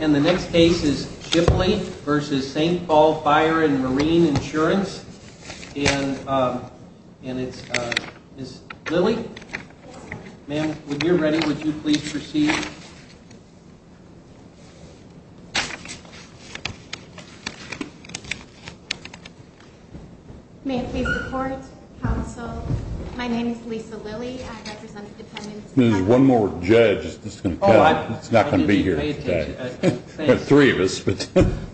And the next case is Shipley v. St. Paul Fire & Marine Insurance. And it's Ms. Lilly. Ma'am, when you're ready, would you please proceed? May I please report, counsel? My name is Lisa Lilly. I represent the Dependents... There's one more judge. It's not going to be here today. There's three of us.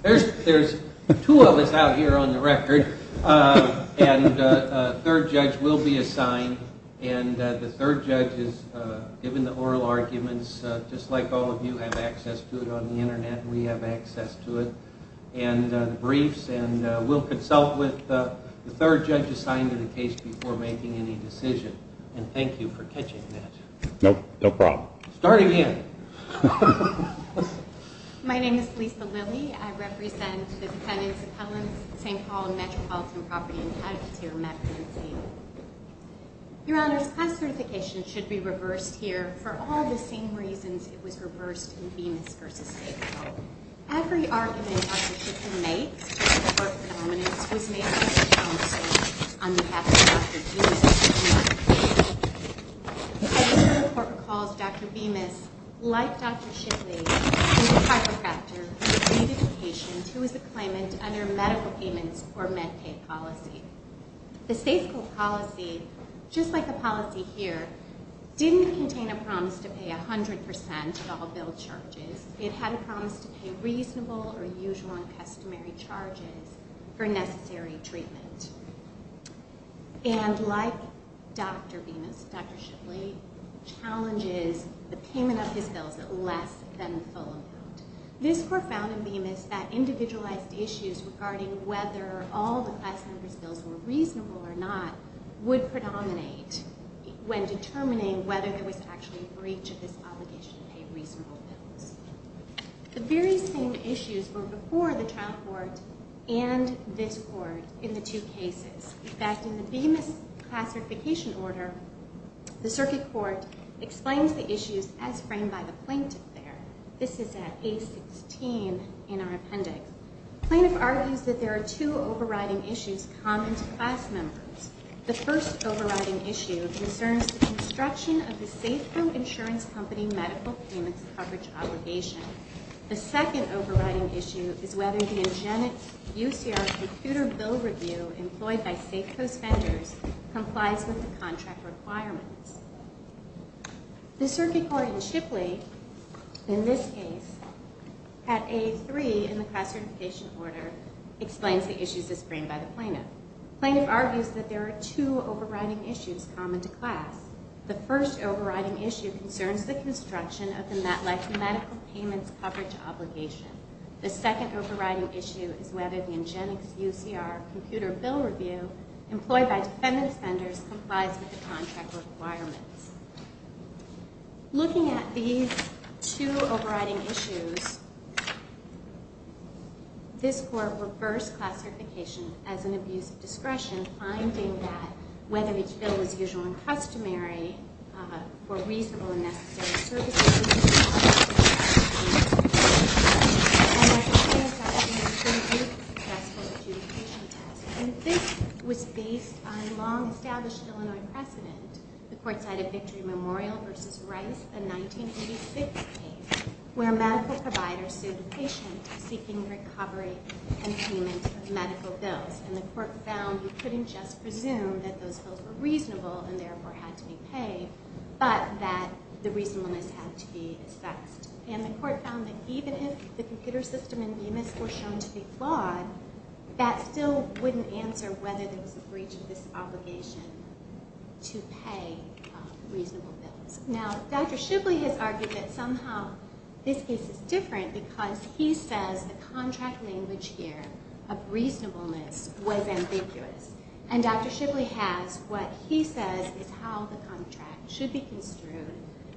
There's two of us out here on the record, and a third judge will be assigned. And the third judge is given the oral arguments, just like all of you have access to it on the Internet, and we have access to it, and the briefs. And we'll consult with the third judge assigned to the case before making any decision. And thank you for catching that. No problem. Starting here. My name is Lisa Lilly. I represent the Dependents, Appellants, St. Paul, Metropolitan Property, and Cattle Catering Agency. Your Honors, class certification should be reversed here for all the same reasons it was reversed in Venus v. St. Paul. Every argument Dr. Shipley makes to support prominence was made by the counsel on behalf of Dr. Venus v. St. Paul. Every report calls Dr. Venus, like Dr. Shipley, a chiropractor who treated patients who was a claimant under medical payments or med pay policy. The state school policy, just like the policy here, didn't contain a promise to pay 100% of all bill charges. It had a promise to pay reasonable or usual and customary charges for necessary treatment. And like Dr. Venus, Dr. Shipley challenges the payment of his bills at less than the full amount. This court found in Venus that individualized issues regarding whether all the class senator's bills were reasonable or not would predominate when determining whether there was actually a breach of this obligation to pay reasonable bills. The very same issues were before the trial court and this court in the two cases. In fact, in the Venus class certification order, the circuit court explains the issues as framed by the plaintiff there. This is at A16 in our appendix. The plaintiff argues that there are two overriding issues common to class members. The first overriding issue concerns the construction of the Safeco Insurance Company medical payments coverage obligation. The second overriding issue is whether the engenic UCR computer bill review employed by Safeco's vendors complies with the contract requirements. The circuit court in Shipley, in this case, at A3 in the class certification order, explains the issues as framed by the plaintiff. The plaintiff argues that there are two overriding issues common to class. The first overriding issue concerns the construction of the MetLife medical payments coverage obligation. The second overriding issue is whether the engenic UCR computer bill review employed by defendant's vendors complies with the contract requirements. Looking at these two overriding issues, this court reversed class certification as an abuse of discretion, finding that whether each bill was usually customary for reasonable and necessary services. And this was based on a long-established Illinois precedent. The court cited Victory Memorial v. Rice, a 1986 case, where a medical provider sued a patient seeking recovery and payment of medical bills. And the court found you couldn't just presume that those bills were reasonable and therefore had to be paid, but that the reasonableness had to be assessed. And the court found that even if the computer system in Bemis were shown to be flawed, that still wouldn't answer whether there was a breach of this obligation to pay reasonable bills. Now, Dr. Shibley has argued that somehow this case is different because he says the contract language here of reasonableness was ambiguous. And Dr. Shibley has what he says is how the contract should be construed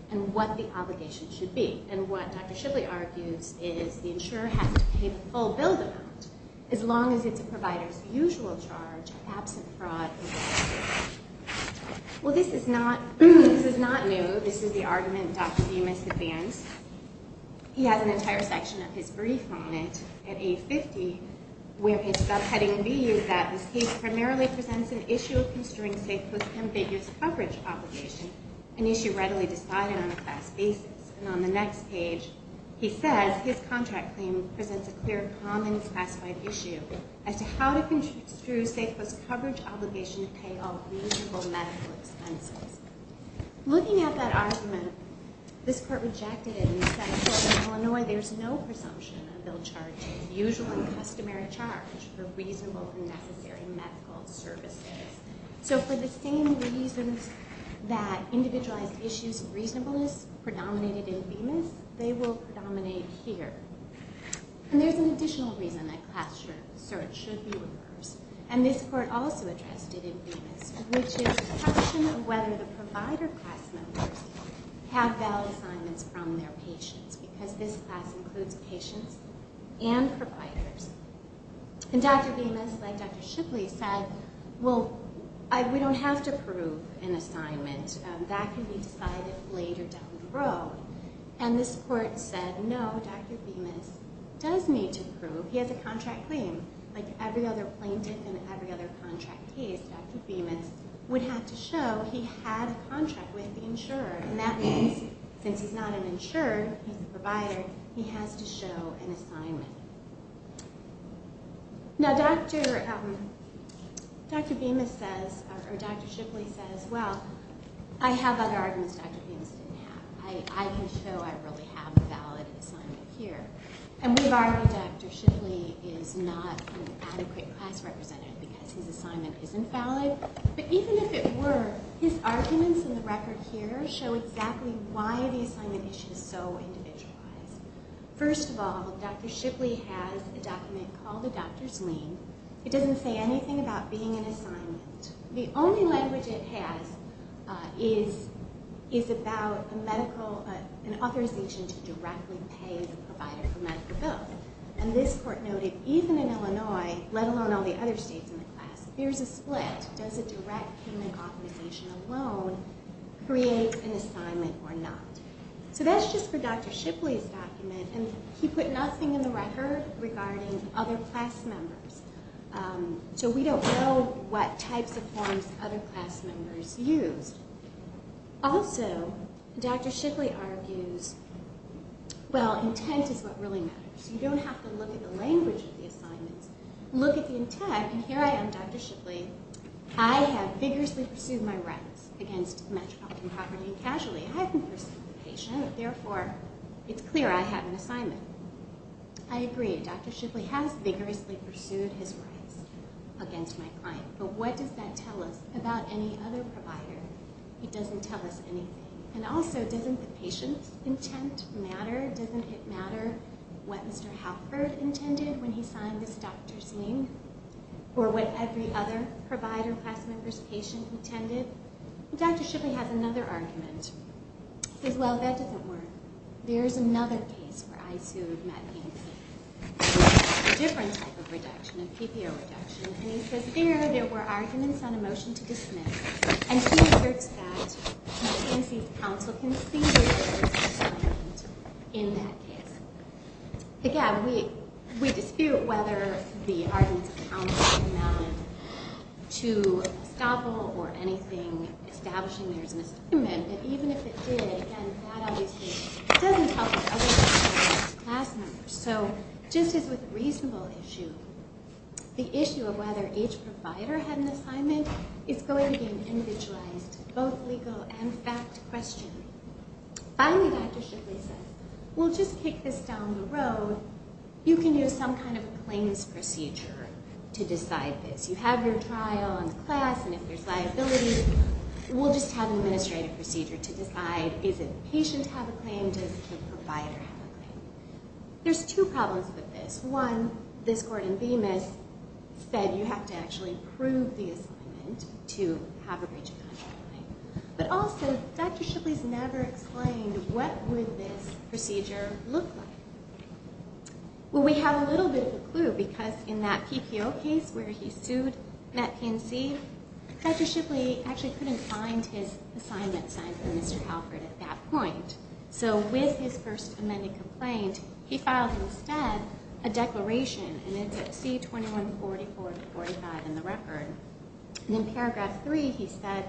and what the obligation should be. And what Dr. Shibley argues is the insurer has to pay the full bill amount as long as it's a provider's usual charge of absent fraud. Well, this is not new. This is the argument Dr. Bemis advanced. He has an entire section of his brief on it at age 50, where his subheading reads that this case primarily presents an issue of construing safe post ambiguous coverage obligation, an issue readily decided on a class basis. And on the next page, he says his contract claim presents a clear common classified issue as to how to construe safe post coverage obligation to pay all reasonable medical expenses. Looking at that argument, this court rejected it and said, well, in Illinois, there's no presumption on a bill charged to its usual and customary charge for reasonable and necessary medical services. So for the same reasons that individualized issues of reasonableness predominated in Bemis, they will predominate here. And there's an additional reason that class search should be reversed. And this court also addressed it in Bemis, which is the question of whether the provider class members have valid assignments from their patients, because this class includes patients and providers. And Dr. Bemis, like Dr. Shipley, said, well, we don't have to prove an assignment. That can be decided later down the road. And this court said, no, Dr. Bemis does need to prove he has a contract claim. Like every other plaintiff in every other contract case, Dr. Bemis would have to show he had a contract with the insurer. And that means, since he's not an insurer, he's a provider, he has to show an assignment. Now, Dr. Bemis says, or Dr. Shipley says, well, I have other arguments Dr. Bemis didn't have. I can show I really have a valid assignment here. And we've argued Dr. Shipley is not an adequate class representative because his assignment isn't valid. But even if it were, his arguments in the record here show exactly why the assignment issue is so individualized. First of all, Dr. Shipley has a document called a doctor's lien. It doesn't say anything about being an assignment. The only language it has is about a medical, an authorization to directly pay the provider for medical bills. And this court noted, even in Illinois, let alone all the other states in the class, there's a split. Does a direct payment authorization alone create an assignment or not? So that's just for Dr. Shipley's document. And he put nothing in the record regarding other class members. So we don't know what types of forms other class members used. Also, Dr. Shipley argues, well, intent is what really matters. You don't have to look at the language of the assignments. Look at the intent. And here I am, Dr. Shipley. I have vigorously pursued my rights against metropolitan property and casualty. I haven't pursued the patient. Therefore, it's clear I have an assignment. I agree. Dr. Shipley has vigorously pursued his rights against my client. But what does that tell us about any other provider? It doesn't tell us anything. And also, doesn't the patient's intent matter? Doesn't it matter what Mr. Halford intended when he signed this doctor's link? Or what every other provider class member's patient intended? Dr. Shipley has another argument. He says, well, that doesn't work. There's another case where I sued Medicaid. A different type of reduction, a PPO reduction. And he says, there, there were arguments on a motion to dismiss. And he asserts that McKinsey's counsel conceded that there was an assignment in that case. Again, we dispute whether the arguments of counsel amount to estoppel or anything establishing there's an assignment. But even if it did, again, that obviously doesn't help with other class members. So just as with a reasonable issue, the issue of whether each provider had an assignment is going to be an individualized, both legal and fact question. Finally, Dr. Shipley says, we'll just kick this down the road. You can use some kind of claims procedure to decide this. You have your trial and class, and if there's liability, we'll just have an administrative procedure to decide, does the patient have a claim, does the provider have a claim? There's two problems with this. One, this court in Bemis said you have to actually prove the assignment to have a breach of contract claim. But also, Dr. Shipley's never explained what would this procedure look like. Well, we have a little bit of a clue, because in that PPO case where he sued McKinsey, Dr. Shipley actually couldn't find his assignment signed by Mr. Halford at that point. So with his first amended complaint, he filed instead a declaration, and it's at C2144-45 in the record. And in paragraph 3, he said,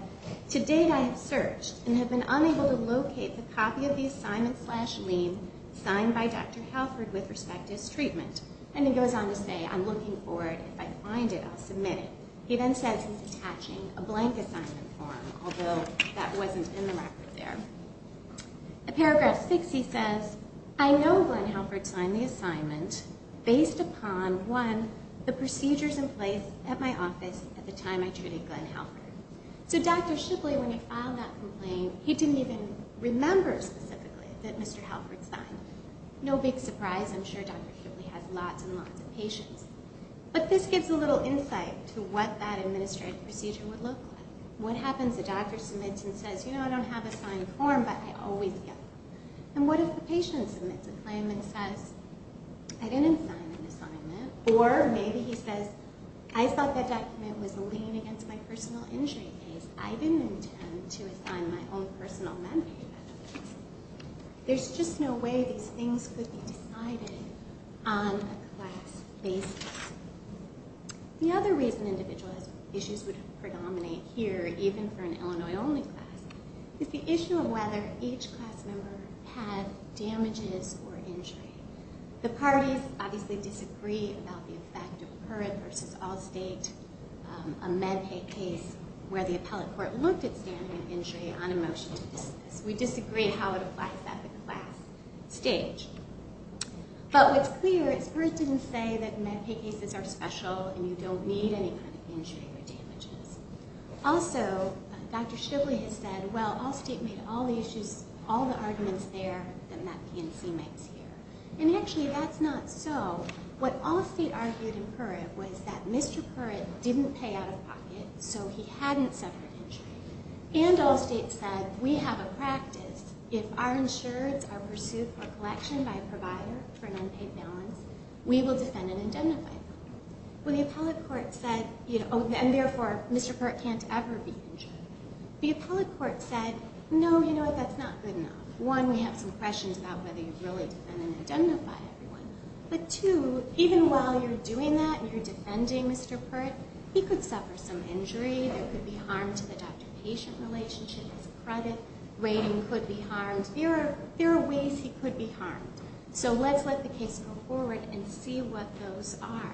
to date I have searched and have been unable to locate the copy of the assignment slash lien signed by Dr. Halford with respect to his treatment. And he goes on to say, I'm looking for it. If I find it, I'll submit it. He then says he's attaching a blank assignment form, although that wasn't in the record there. In paragraph 6, he says, I know Glenn Halford signed the assignment based upon, one, the procedures in place at my office at the time I treated Glenn Halford. So Dr. Shipley, when he filed that complaint, he didn't even remember specifically that Mr. Halford signed it. No big surprise. I'm sure Dr. Shipley has lots and lots of patients. But this gives a little insight to what that administrative procedure would look like. What happens if a doctor submits and says, you know, I don't have a signed form, but I always get one. And what if the patient submits a claim and says, I didn't sign an assignment, or maybe he says, I thought that document was a lien against my personal injury case. I didn't intend to assign my own personal medical records. There's just no way these things could be decided on a class basis. The other reason individual issues would predominate here, even for an Illinois-only class, is the issue of whether each class member had damages or injury. The parties obviously disagree about the effect of current versus all-state amend a case where the appellate court looked at standing an injury on a motion to dismiss. We disagree how it applies at the class stage. But what's clear is PURRT didn't say that Medicaid cases are special and you don't need any kind of injury or damages. Also, Dr. Shipley has said, well, all-state made all the arguments there, then that PNC makes here. And actually, that's not so. What all-state argued in PURRT was that Mr. PURRT didn't pay out of pocket, so he hadn't suffered injury. And all-state said, we have a practice. If our insureds are pursued for collection by a provider for an unpaid balance, we will defend and identify them. Well, the appellate court said, and therefore Mr. PURRT can't ever be insured. The appellate court said, no, you know what, that's not good enough. One, we have some questions about whether you really defend and identify everyone. But two, even while you're doing that and you're defending Mr. PURRT, he could suffer some injury. There could be harm to the doctor-patient relationship. His credit rating could be harmed. There are ways he could be harmed. So let's let the case go forward and see what those are.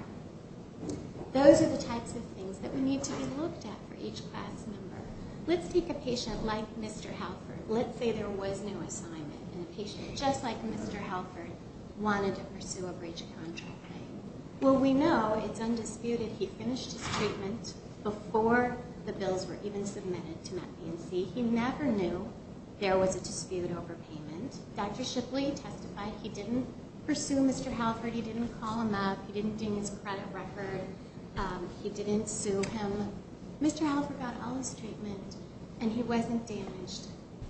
Those are the types of things that we need to be looked at for each class member. Let's take a patient like Mr. Halford. Let's say there was no assignment and a patient just like Mr. Halford wanted to pursue a breach of contract claim. Well, we know it's undisputed he finished his treatment before the bills were even submitted to MAT-PNC. He never knew there was a dispute over payment. Dr. Shipley testified he didn't pursue Mr. Halford. He didn't call him up. He didn't do his credit record. He didn't sue him. Mr. Halford got all his treatment, and he wasn't damaged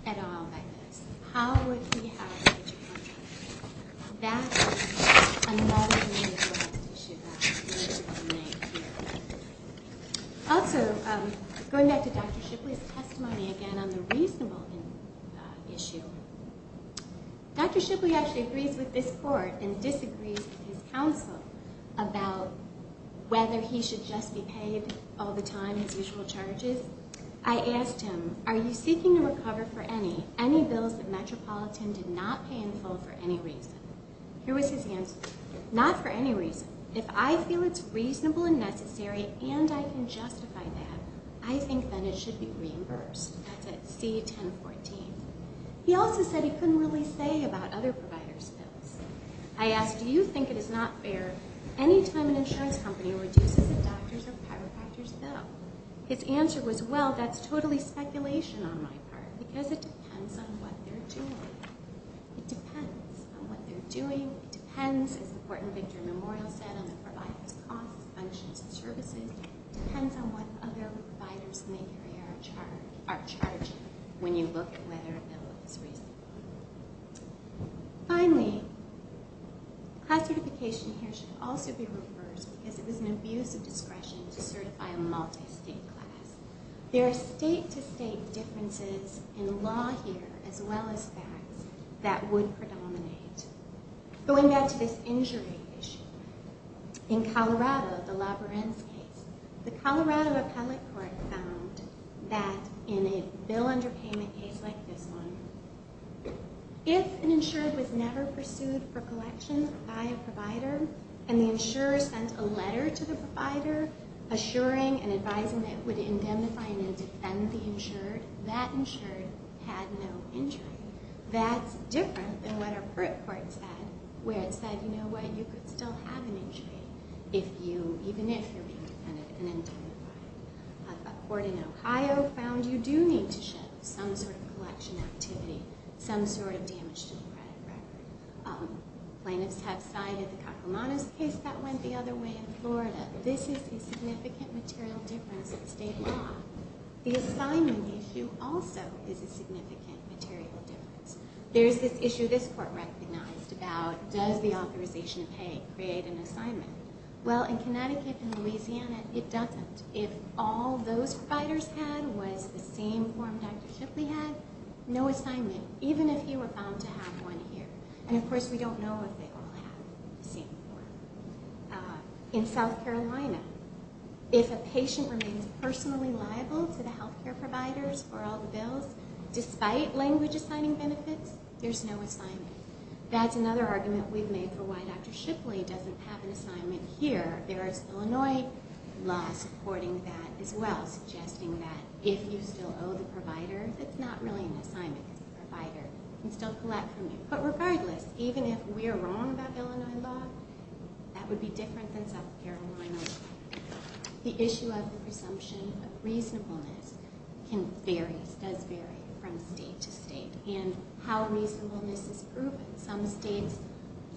at all by this. How would he have a breach of contract? That is another major issue that needs to be made clear. Also, going back to Dr. Shipley's testimony again on the reasonable issue, Dr. Shipley actually agrees with this court and disagrees with his counsel about whether he should just be paid all the time his usual charges. I asked him, are you seeking to recover for any, are there any bills that Metropolitan did not pay in full for any reason? Here was his answer. Not for any reason. If I feel it's reasonable and necessary and I can justify that, I think then it should be reimbursed. That's at C-1014. He also said he couldn't really say about other providers' bills. I asked, do you think it is not fair any time an insurance company reduces a doctor's or chiropractor's bill? His answer was, well, that's totally speculation on my part because it depends on what they're doing. It depends on what they're doing. It depends, as the Port and Victory Memorial said, on the provider's costs, functions, and services. It depends on what other providers may carry our charge when you look at whether a bill is reasonable. Finally, class certification here should also be reimbursed because it was an abuse of discretion to certify a multi-state class. There are state-to-state differences in law here, as well as facts, that would predominate. Going back to this injury issue, in Colorado, the Labyrinth case, the Colorado Appellate Court found that in a bill under payment case like this one, if an insurer was never pursued for collection by a provider and the insurer sent a letter to the provider assuring and advising that it would indemnify and indefend the insured, that insured had no injury. That's different than what a court said, where it said, you know what, you could still have an injury even if you're being indefendent and indemnified. A court in Ohio found you do need to show some sort of collection activity, some sort of damage to the credit record. Plaintiffs have cited the Kakumanis case that went the other way in Florida. This is a significant material difference in state law. The assignment issue also is a significant material difference. There's this issue this court recognized about, does the authorization of pay create an assignment? Well, in Connecticut and Louisiana, it doesn't. If all those providers had was the same form Dr. Shipley had, no assignment, even if you were bound to have one here. And, of course, we don't know if they all have the same form. In South Carolina, if a patient remains personally liable to the health care providers for all the bills, despite language-assigning benefits, there's no assignment. That's another argument we've made for why Dr. Shipley doesn't have an assignment here. There is Illinois law supporting that as well, suggesting that if you still owe the provider, that's not really an assignment. It's a provider who can still collect from you. But regardless, even if we're wrong about Illinois law, that would be different than South Carolina law. The issue of the presumption of reasonableness can vary, does vary, from state to state, and how reasonableness is proven. Some states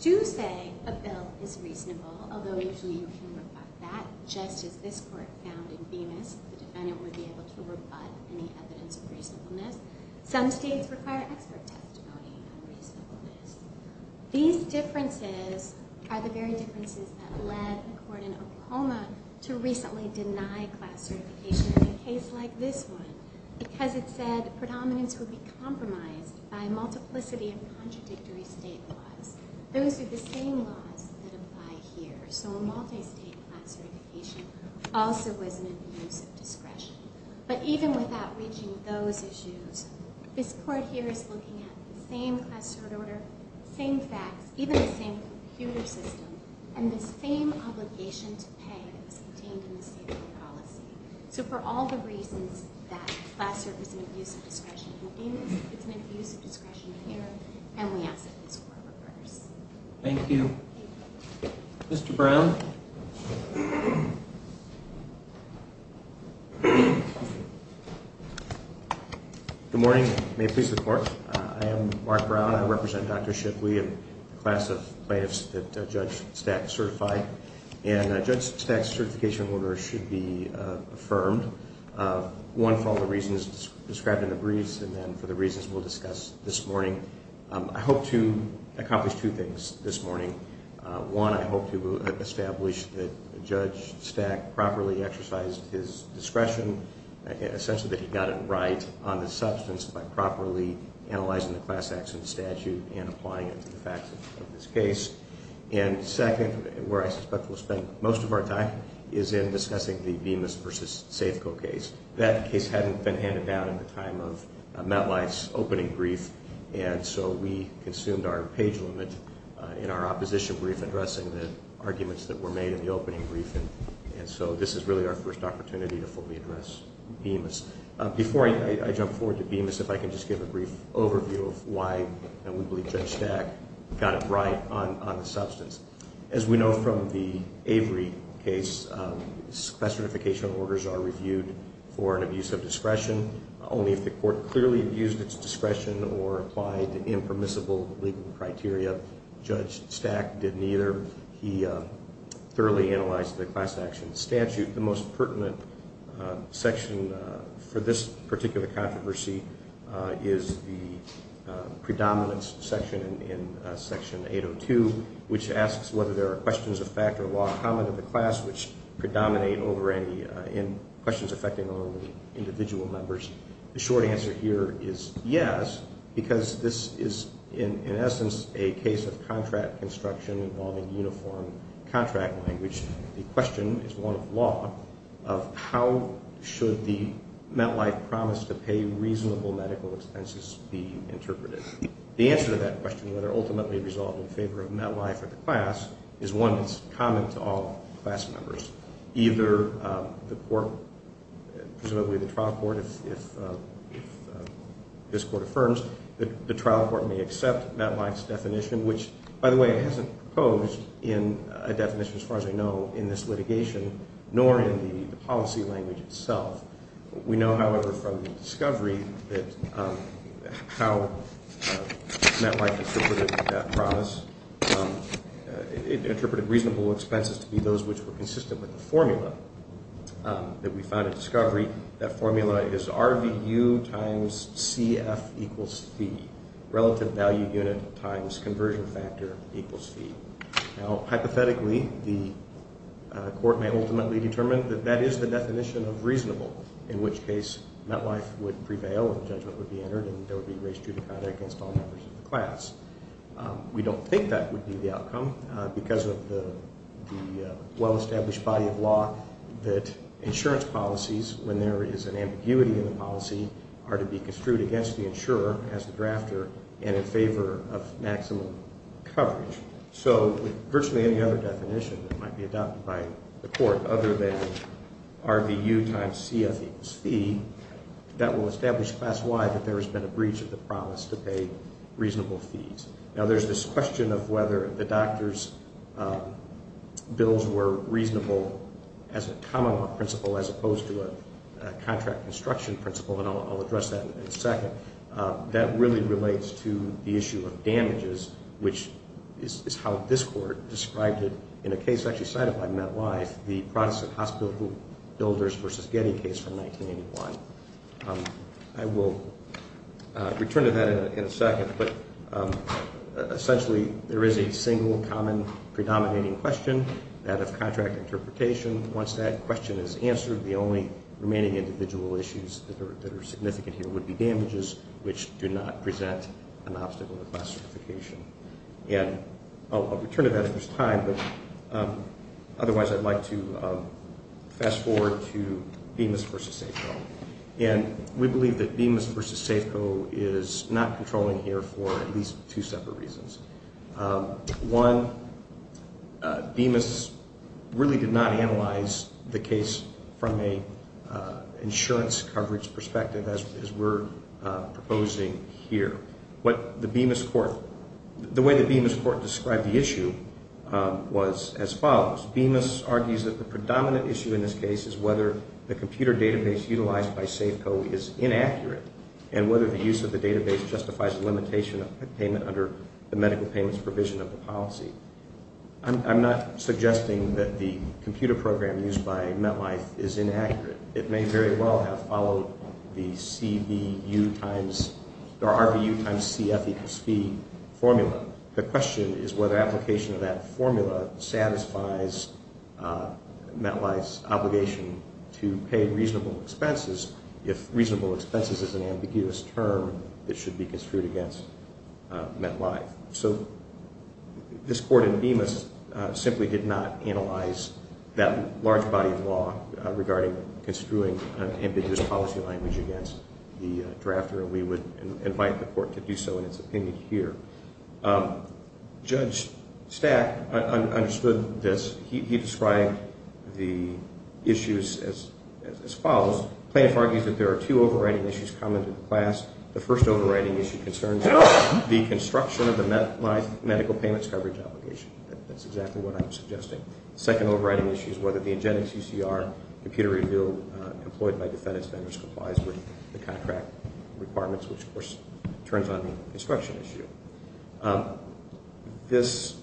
do say a bill is reasonable, although usually you can rebut that, just as this court found in Bemis, the defendant would be able to rebut any evidence of reasonableness. Some states require expert testimony on reasonableness. These differences are the very differences that led a court in Oklahoma to recently deny class certification in a case like this one, because it said predominance would be compromised by a multiplicity of contradictory state laws. Those are the same laws that apply here, so a multi-state class certification also was an abuse of discretion. But even without reaching those issues, this court here is looking at the same class cert order, same facts, even the same computer system, and the same obligation to pay that was contained in the state law policy. So for all the reasons that class cert is an abuse of discretion in Bemis, it's an abuse of discretion here, and we ask that this court reverse. Thank you. Mr. Brown? Good morning. May it please the Court. I am Mark Brown. I represent Dr. Shipley and the class of plaintiffs that Judge Stack certified, and Judge Stack's certification order should be affirmed, one, for all the reasons described in the briefs, and then for the reasons we'll discuss this morning. I hope to accomplish two things this morning. One, I hope to establish that Judge Stack properly exercised his discretion, essentially that he got it right on the substance by properly analyzing the class accident statute and applying it to the facts of this case. And second, where I suspect we'll spend most of our time, is in discussing the Bemis v. Safeco case. That case hadn't been handed down in the time of MetLife's opening brief, and so we consumed our page limit in our opposition brief addressing the arguments that were made in the opening brief, and so this is really our first opportunity to fully address Bemis. Before I jump forward to Bemis, if I can just give a brief overview of why we believe Judge Stack got it right on the substance. As we know from the Avery case, class certification orders are reviewed for an abuse of discretion only if the court clearly abused its discretion or applied impermissible legal criteria. Judge Stack did neither. He thoroughly analyzed the class action statute. The most pertinent section for this particular controversy is the predominance section in Section 802, which asks whether there are questions of fact or law common to the class which predominate over questions affecting only individual members. The short answer here is yes, because this is in essence a case of contract construction involving uniform contract language. The question is one of law, of how should the MetLife promise to pay reasonable medical expenses be interpreted. The answer to that question, whether ultimately resolved in favor of MetLife or the class, is one that's common to all class members. Either the court, presumably the trial court, if this court affirms, the trial court may accept MetLife's definition, which, by the way, it hasn't proposed in a definition as far as I know in this litigation, nor in the policy language itself. We know, however, from the discovery that how MetLife interpreted that promise, it interpreted reasonable expenses to be those which were consistent with the formula that we found at discovery. That formula is RVU times CF equals fee. Relative value unit times conversion factor equals fee. Now, hypothetically, the court may ultimately determine that that is the definition of reasonable, in which case MetLife would prevail and judgment would be entered and there would be race judicata against all members of the class. We don't think that would be the outcome because of the well-established body of law that insurance policies, when there is an ambiguity in the policy, are to be construed against the insurer as the drafter and in favor of maximum coverage. So virtually any other definition that might be adopted by the court other than RVU times CF equals fee, that will establish class-wide that there has been a breach of the promise to pay reasonable fees. Now, there's this question of whether the doctor's bills were reasonable as a common law principle as opposed to a contract construction principle, and I'll address that in a second. That really relates to the issue of damages, which is how this court described it in a case actually cited by MetLife, the Protestant Hospital Builders v. Getty case from 1981. I will return to that in a second, but essentially there is a single, common, predominating question, that of contract interpretation. Once that question is answered, the only remaining individual issues that are significant here would be damages, which do not present an obstacle to class certification. And I'll return to that if there's time, but otherwise I'd like to fast forward to Bemis v. Safeco. And we believe that Bemis v. Safeco is not controlling here for at least two separate reasons. One, Bemis really did not analyze the case from an insurance coverage perspective as we're proposing here. The way that Bemis court described the issue was as follows. Bemis argues that the predominant issue in this case is whether the computer database utilized by Safeco is inaccurate and whether the use of the database justifies the limitation of payment under the medical payments provision of the policy. I'm not suggesting that the computer program used by MetLife is inaccurate. It may very well have followed the RVU times CF equals fee formula. The question is whether application of that formula satisfies MetLife's obligation to pay reasonable expenses. If reasonable expenses is an ambiguous term, it should be construed against MetLife. So this court in Bemis simply did not analyze that large body of law regarding construing an ambiguous policy language against the drafter, and we would invite the court to do so in its opinion here. Judge Stack understood this. He described the issues as follows. Plaintiff argues that there are two overriding issues common to the class. The first overriding issue concerns the construction of the MetLife medical payments coverage obligation. That's exactly what I'm suggesting. The second overriding issue is whether the agenda CCR computer review employed by defendant's vendors complies with the contract requirements, which, of course, turns on the construction issue. This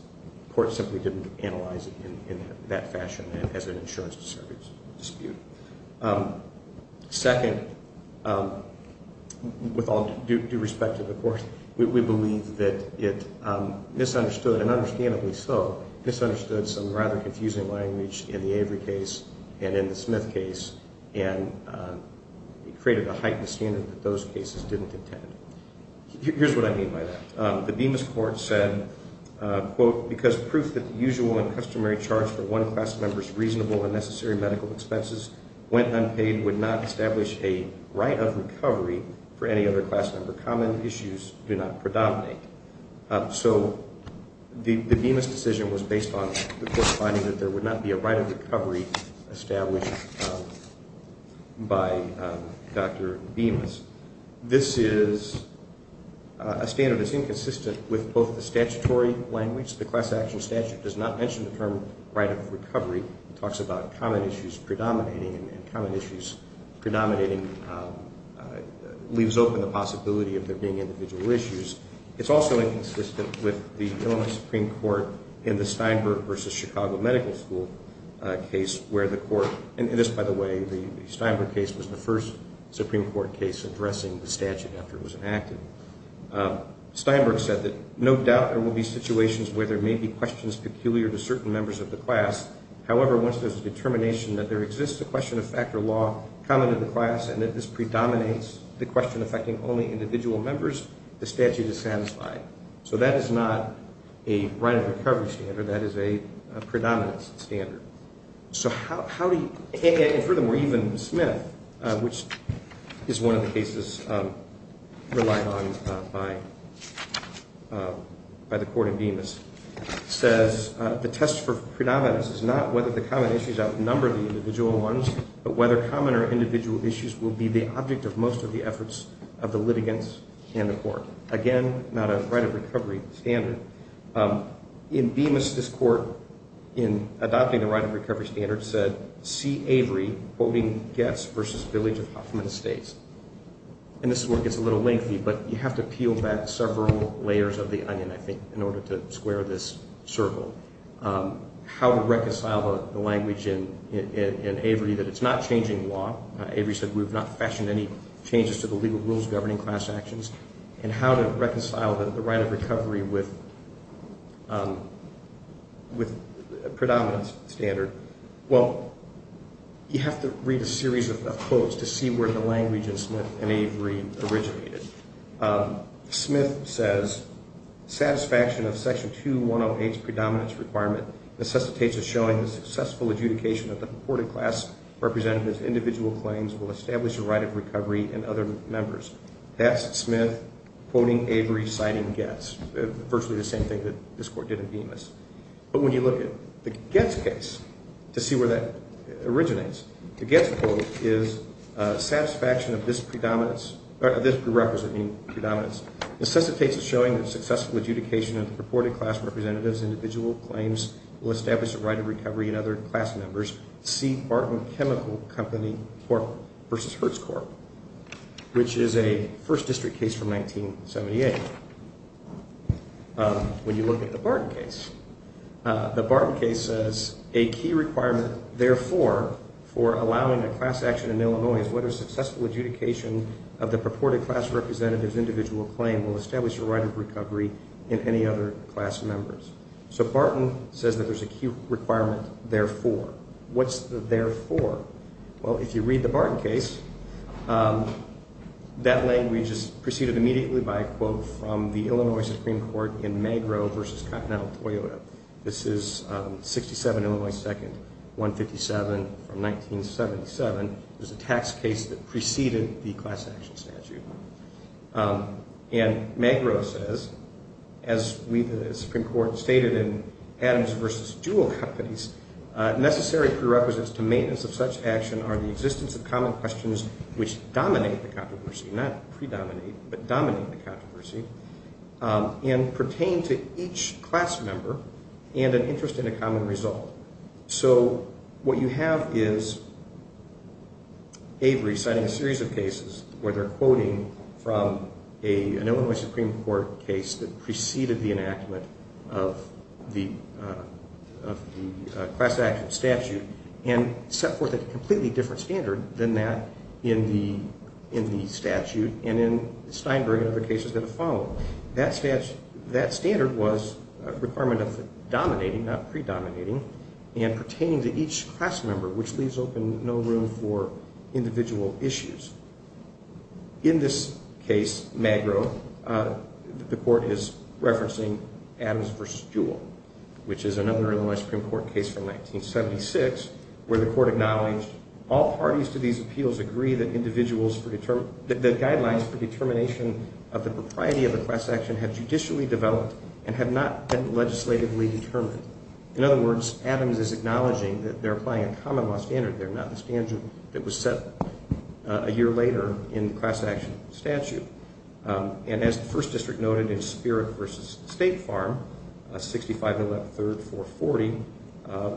court simply didn't analyze it in that fashion as an insurance dispute. Second, with all due respect to the court, we believe that it misunderstood, and understandably so, misunderstood some rather confusing language in the Avery case and in the Smith case and created a heightened standard that those cases didn't intend. Here's what I mean by that. The Bemis court said, quote, because proof that the usual and customary charge for one class member's reasonable and necessary medical expenses went unpaid would not establish a right of recovery for any other class member. Common issues do not predominate. So the Bemis decision was based on the court finding that there would not be a right of recovery established by Dr. Bemis. This is a standard that's inconsistent with both the statutory language. The class action statute does not mention the term right of recovery. It talks about common issues predominating, and common issues predominating leaves open the possibility of there being individual issues. It's also inconsistent with the Illinois Supreme Court in the Steinberg v. Chicago Medical School case where the court And this, by the way, the Steinberg case was the first Supreme Court case addressing the statute after it was enacted. Steinberg said that no doubt there will be situations where there may be questions peculiar to certain members of the class. However, once there's a determination that there exists a question of fact or law common to the class and that this predominates the question affecting only individual members, the statute is satisfied. So that is not a right of recovery standard. That is a predominance standard. So how do you, and furthermore, even Smith, which is one of the cases relied on by the court in Bemis, says the test for predominance is not whether the common issues outnumber the individual ones, but whether common or individual issues will be the object of most of the efforts of the litigants and the court. Again, not a right of recovery standard. In Bemis, this court, in adopting the right of recovery standard, said, See Avery quoting Goetz versus Billings of Huffman Estates. And this is where it gets a little lengthy, but you have to peel back several layers of the onion, I think, in order to square this circle. How to reconcile the language in Avery that it's not changing law. Avery said we've not fashioned any changes to the legal rules governing class actions. And how to reconcile the right of recovery with predominance standard. Well, you have to read a series of quotes to see where the language in Smith and Avery originated. Smith says, Satisfaction of Section 2108's predominance requirement necessitates a showing of successful adjudication of the purported class representative's individual claims will establish a right of recovery in other members. That's Smith quoting Avery citing Goetz. Virtually the same thing that this court did in Bemis. But when you look at the Goetz case, to see where that originates, the Goetz quote is, Satisfaction of this predominance, this prerequisite, meaning predominance, necessitates a showing of successful adjudication of the purported class representative's individual claims will establish a right of recovery in other class members. C. Barton Chemical Company versus Hertz Corp. Which is a first district case from 1978. When you look at the Barton case, the Barton case says a key requirement, therefore, for allowing a class action in Illinois is whether successful adjudication of the purported class representative's individual claim will establish a right of recovery in any other class members. So Barton says that there's a key requirement, therefore. What's the therefore? Well, if you read the Barton case, that language is preceded immediately by a quote from the Illinois Supreme Court in Magro versus Continental Toyota. This is 67 Illinois 2nd, 157 from 1977. It was a tax case that preceded the class action statute. And Magro says, as the Supreme Court stated in Adams versus Jewell Companies, necessary prerequisites to maintenance of such action are the existence of common questions which dominate the controversy, not predominate, but dominate the controversy and pertain to each class member and an interest in a common result. So what you have is Avery citing a series of cases where they're quoting from an Illinois Supreme Court case that preceded the enactment of the class action statute and set forth a completely different standard than that in the statute and in Steinberg and other cases that have followed. That standard was a requirement of dominating, not predominating, and pertaining to each class member, which leaves open no room for individual issues. In this case, Magro, the court is referencing Adams versus Jewell, which is another Illinois Supreme Court case from 1976 where the court acknowledged all parties to these appeals agree that the guidelines for determination of the propriety of the class action have judicially developed and have not been legislatively determined. In other words, Adams is acknowledging that they're applying a common law standard. They're not the standard that was set a year later in the class action statute. And as the first district noted in Spirit versus State Farm, 65113-440,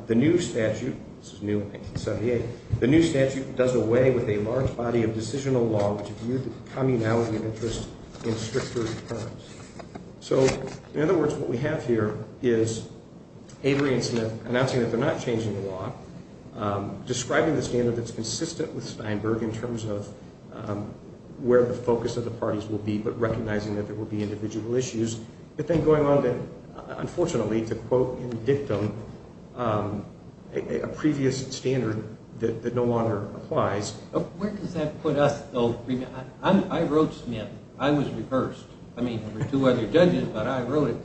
the new statute, this is new, 1978, the new statute does away with a large body of decisional law which views the communality of interest in stricter terms. So, in other words, what we have here is Avery and Smith announcing that they're not changing the law, describing the standard that's consistent with Steinberg in terms of where the focus of the parties will be, but recognizing that there will be individual issues, but then going on, unfortunately, to quote in dictum a previous standard that no longer applies. Where does that put us, though? I wrote Smith. I was reversed. I mean, there were two other judges, but I wrote it,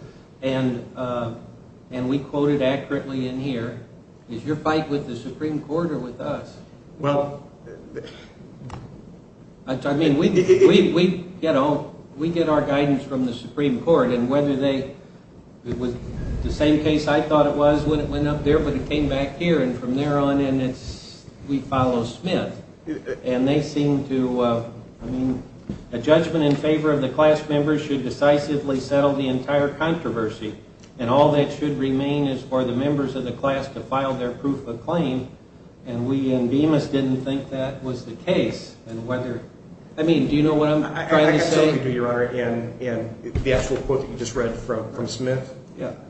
and we quoted accurately in here. Is your fight with the Supreme Court or with us? Well... I mean, we get our guidance from the Supreme Court, and whether they... The same case I thought it was when it went up there, but it came back here, and from there on in, we follow Smith, and they seem to... I mean, a judgment in favor of the class members should decisively settle the entire controversy, and all that should remain is for the members of the class to file their proof of claim, and we in Bemis didn't think that was the case, and whether... I mean, do you know what I'm trying to say? I certainly do, Your Honor, and the actual quote that you just read from Smith,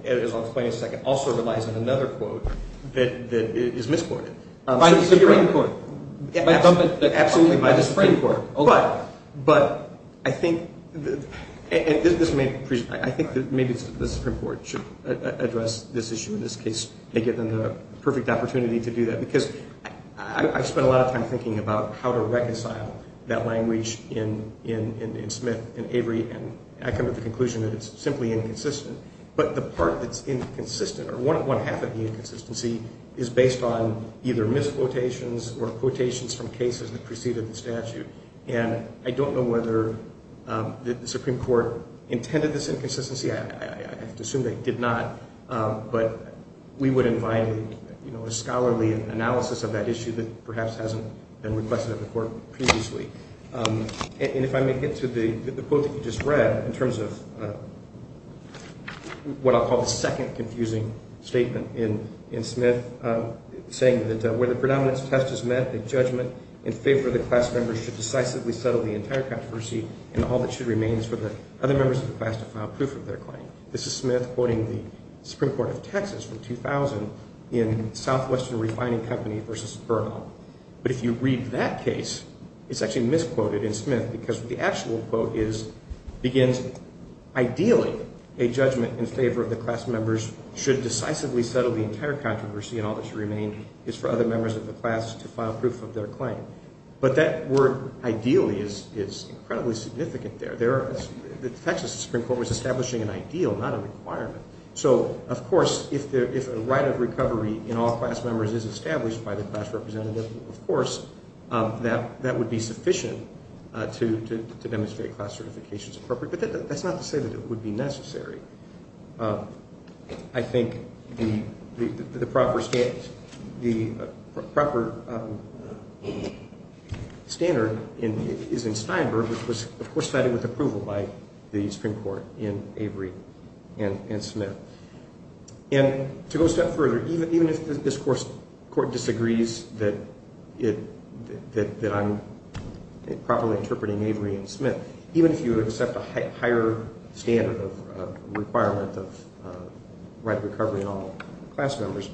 as I'll explain in a second, also relies on another quote that is misquoted. By the Supreme Court? Absolutely by the Supreme Court, but I think that maybe the Supreme Court should address this issue. In this case, they give them the perfect opportunity to do that, because I've spent a lot of time thinking about how to reconcile that language in Smith and Avery, and I come to the conclusion that it's simply inconsistent, but the part that's inconsistent or one half of the inconsistency is based on either misquotations or quotations from cases that preceded the statute, and I don't know whether the Supreme Court intended this inconsistency. I have to assume they did not, but we would invite a scholarly analysis of that issue that perhaps hasn't been requested of the Court previously. And if I may get to the quote that you just read in terms of what I'll call the second confusing statement in Smith, saying that where the predominance test is met, the judgment in favor of the class members should decisively settle the entire controversy and all that should remain is for the other members of the class to file proof of their claim. This is Smith quoting the Supreme Court of Texas from 2000 in Southwestern Refining Company v. Bernal, but if you read that case, it's actually misquoted in Smith because the actual quote begins, ideally a judgment in favor of the class members should decisively settle the entire controversy and all that should remain is for other members of the class to file proof of their claim. But that word ideally is incredibly significant there. The Texas Supreme Court was establishing an ideal, not a requirement. So, of course, if a right of recovery in all class members is established by the class representative, of course, that would be sufficient to demonstrate class certification is appropriate, but that's not to say that it would be necessary. I think the proper standard is in Steinberg, which was, of course, cited with approval by the Supreme Court in Avery and Smith. And to go a step further, even if this court disagrees that I'm properly interpreting Avery and Smith, even if you accept a higher standard of requirement of right of recovery in all class members,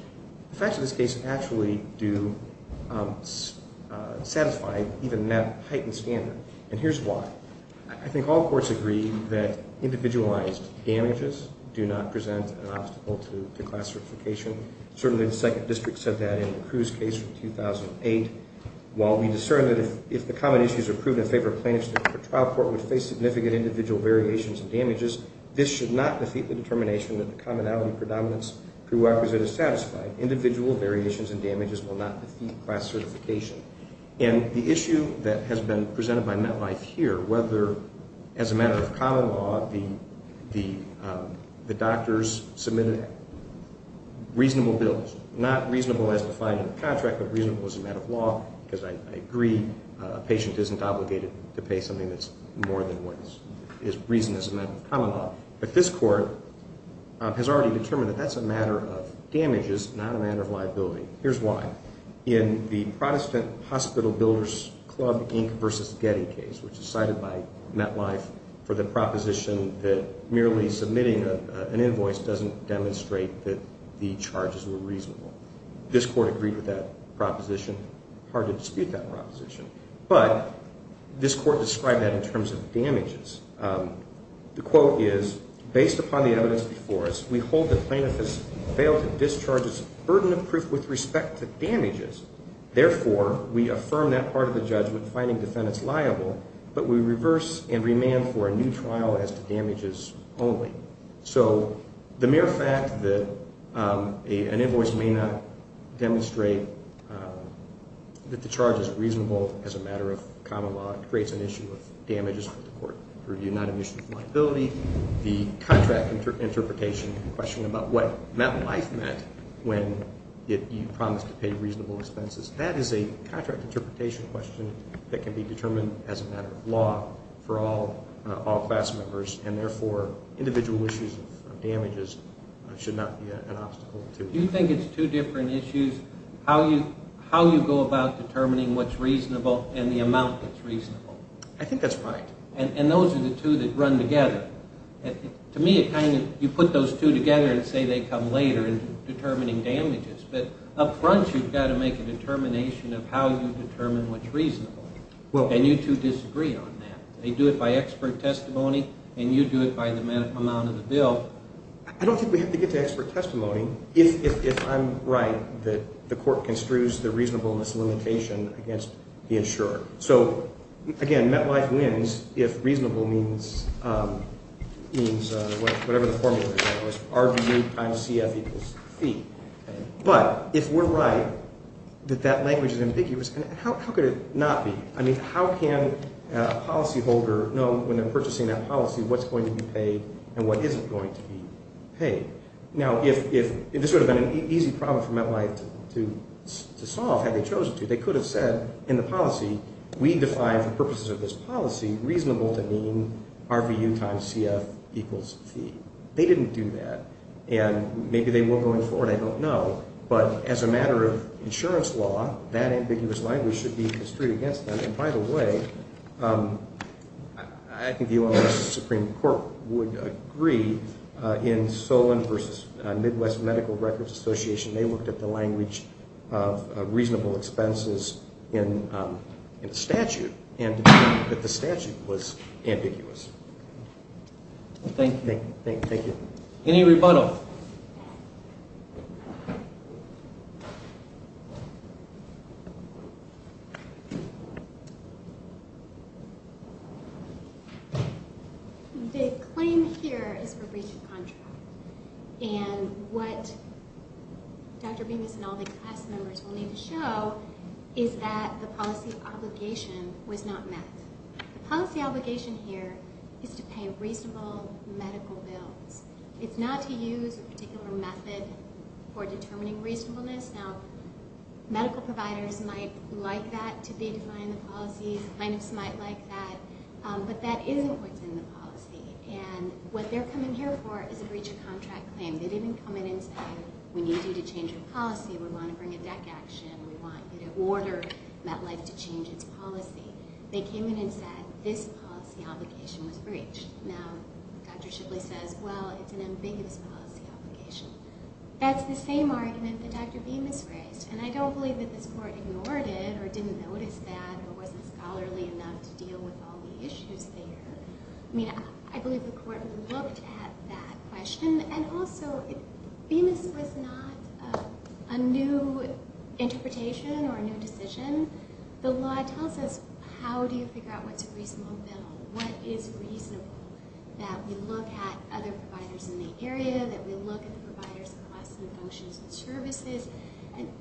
the facts of this case actually do satisfy even that heightened standard. And here's why. I think all courts agree that individualized damages do not present an obstacle to class certification. Certainly the 2nd District said that in the Cruz case from 2008. While we discern that if the common issues are proven in favor of plaintiffs, the trial court would face significant individual variations and damages. This should not defeat the determination that the commonality predominance prerequisite is satisfied. Individual variations and damages will not defeat class certification. And the issue that has been presented by MetLife here, whether as a matter of common law, the doctors submitted reasonable bills, not reasonable as defined in the contract, but reasonable as a matter of law, because I agree a patient isn't obligated to pay something that's more than what is reason as a matter of common law. But this court has already determined that that's a matter of damages, not a matter of liability. Here's why. In the Protestant Hospital Builders Club Inc. versus Getty case, which is cited by MetLife for the proposition that merely submitting an invoice doesn't demonstrate that the charges were reasonable. This court agreed with that proposition. Hard to dispute that proposition. But this court described that in terms of damages. The quote is, based upon the evidence before us, we hold that plaintiff has failed to discharge his burden of proof with respect to damages. Therefore, we affirm that part of the judgment, finding defendants liable, but we reverse and remand for a new trial as to damages only. So the mere fact that an invoice may not demonstrate that the charge is reasonable as a matter of common law creates an issue of damages for the court to review, not an issue of liability. The contract interpretation question about what MetLife meant when you promised to pay reasonable expenses, that is a contract interpretation question that can be determined as a matter of law for all class members. And therefore, individual issues of damages should not be an obstacle to it. Do you think it's two different issues, how you go about determining what's reasonable and the amount that's reasonable? I think that's right. And those are the two that run together. To me, you put those two together and say they come later in determining damages. But up front, you've got to make a determination of how you determine what's reasonable. And you two disagree on that. They do it by expert testimony, and you do it by the amount of the bill. I don't think we have to get to expert testimony if I'm right that the court construes the reasonableness limitation against the insurer. So, again, MetLife wins if reasonable means whatever the formula is. It's RVU times CF equals fee. But if we're right that that language is ambiguous, how could it not be? I mean, how can a policyholder know when they're purchasing that policy what's going to be paid and what isn't going to be paid? Now, if this would have been an easy problem for MetLife to solve, had they chosen to, they could have said in the policy, we define for purposes of this policy reasonable to mean RVU times CF equals fee. They didn't do that. And maybe they will going forward. I don't know. But as a matter of insurance law, that ambiguous language should be construed against them. And, by the way, I think the U.S. Supreme Court would agree in Solon versus Midwest Medical Records Association, they looked at the language of reasonable expenses in the statute, and the statute was ambiguous. Thank you. Thank you. Any rebuttal? The claim here is for breach of contract. And what Dr. Bingus and all the class members will need to show is that the policy obligation was not met. The policy obligation here is to pay reasonable medical bills. It's not to use a particular method for determining reasonableness. Now, medical providers might like that to be defined in the policy. Clinics might like that. But that isn't what's in the policy. And what they're coming here for is a breach of contract claim. They didn't come in and say, we need you to change your policy. We want to bring a deck action. We want you to order MetLife to change its policy. They came in and said, this policy obligation was breached. Now, Dr. Shipley says, well, it's an ambiguous policy obligation. That's the same argument that Dr. Bingus raised. And I don't believe that this court ignored it or didn't notice that or wasn't scholarly enough to deal with all the issues there. I mean, I believe the court looked at that question. And also, Bingus was not a new interpretation or a new decision. The law tells us, how do you figure out what's a reasonable bill? What is reasonable? That we look at other providers in the area, that we look at the providers' costs and functions and services.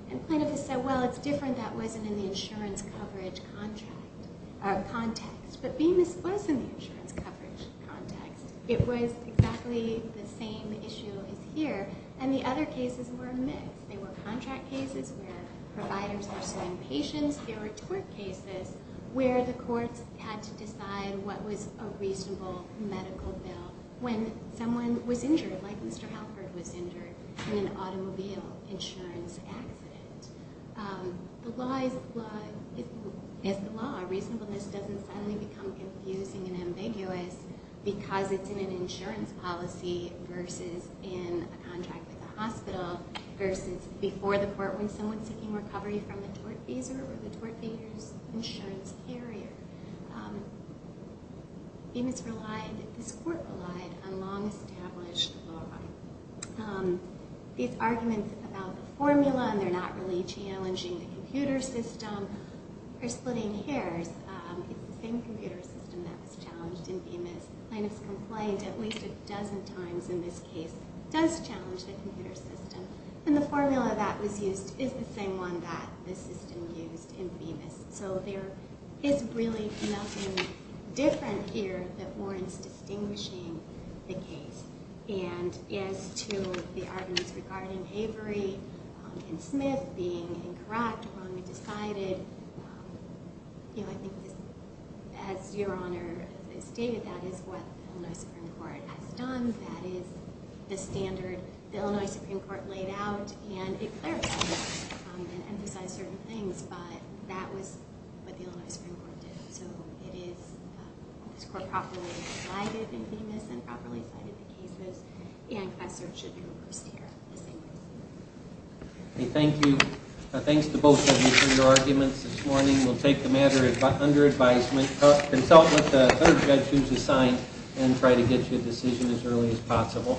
And plaintiffs said, well, it's different. That wasn't in the insurance coverage context. But Bingus was in the insurance coverage context. It was exactly the same issue as here. And the other cases were a myth. They were contract cases where providers were suing patients. They were tort cases where the courts had to decide what was a reasonable medical bill when someone was injured, like Mr. Halford was injured in an automobile insurance accident. The law is the law. Reasonableness doesn't suddenly become confusing and ambiguous because it's in an insurance policy versus in a contract with a hospital versus before the court when someone's seeking recovery from a tort visa or the tort visa's insurance carrier. Bingus relied, this court relied, on long-established law. These arguments about the formula and they're not really challenging the computer system or splitting hairs, it's the same computer system that was challenged in Bingus. Plaintiffs complained at least a dozen times in this case. It does challenge the computer system. And the formula that was used is the same one that the system used in Bingus. So there is really nothing different here that warrants distinguishing the case. And as to the arguments regarding Avery and Smith being incorrect when we decided, you know, I think as Your Honor has stated, that is what the Illinois Supreme Court has done. That is the standard the Illinois Supreme Court laid out, and it clarified that and emphasized certain things, but that was what the Illinois Supreme Court did. So it is, this court properly decided in Bingus and properly decided the case and a search should be reversed here. Thank you. Thanks to both of you for your arguments this morning. We'll take the matter under advisement. Consult with the other judges assigned and try to get you a decision as early as possible.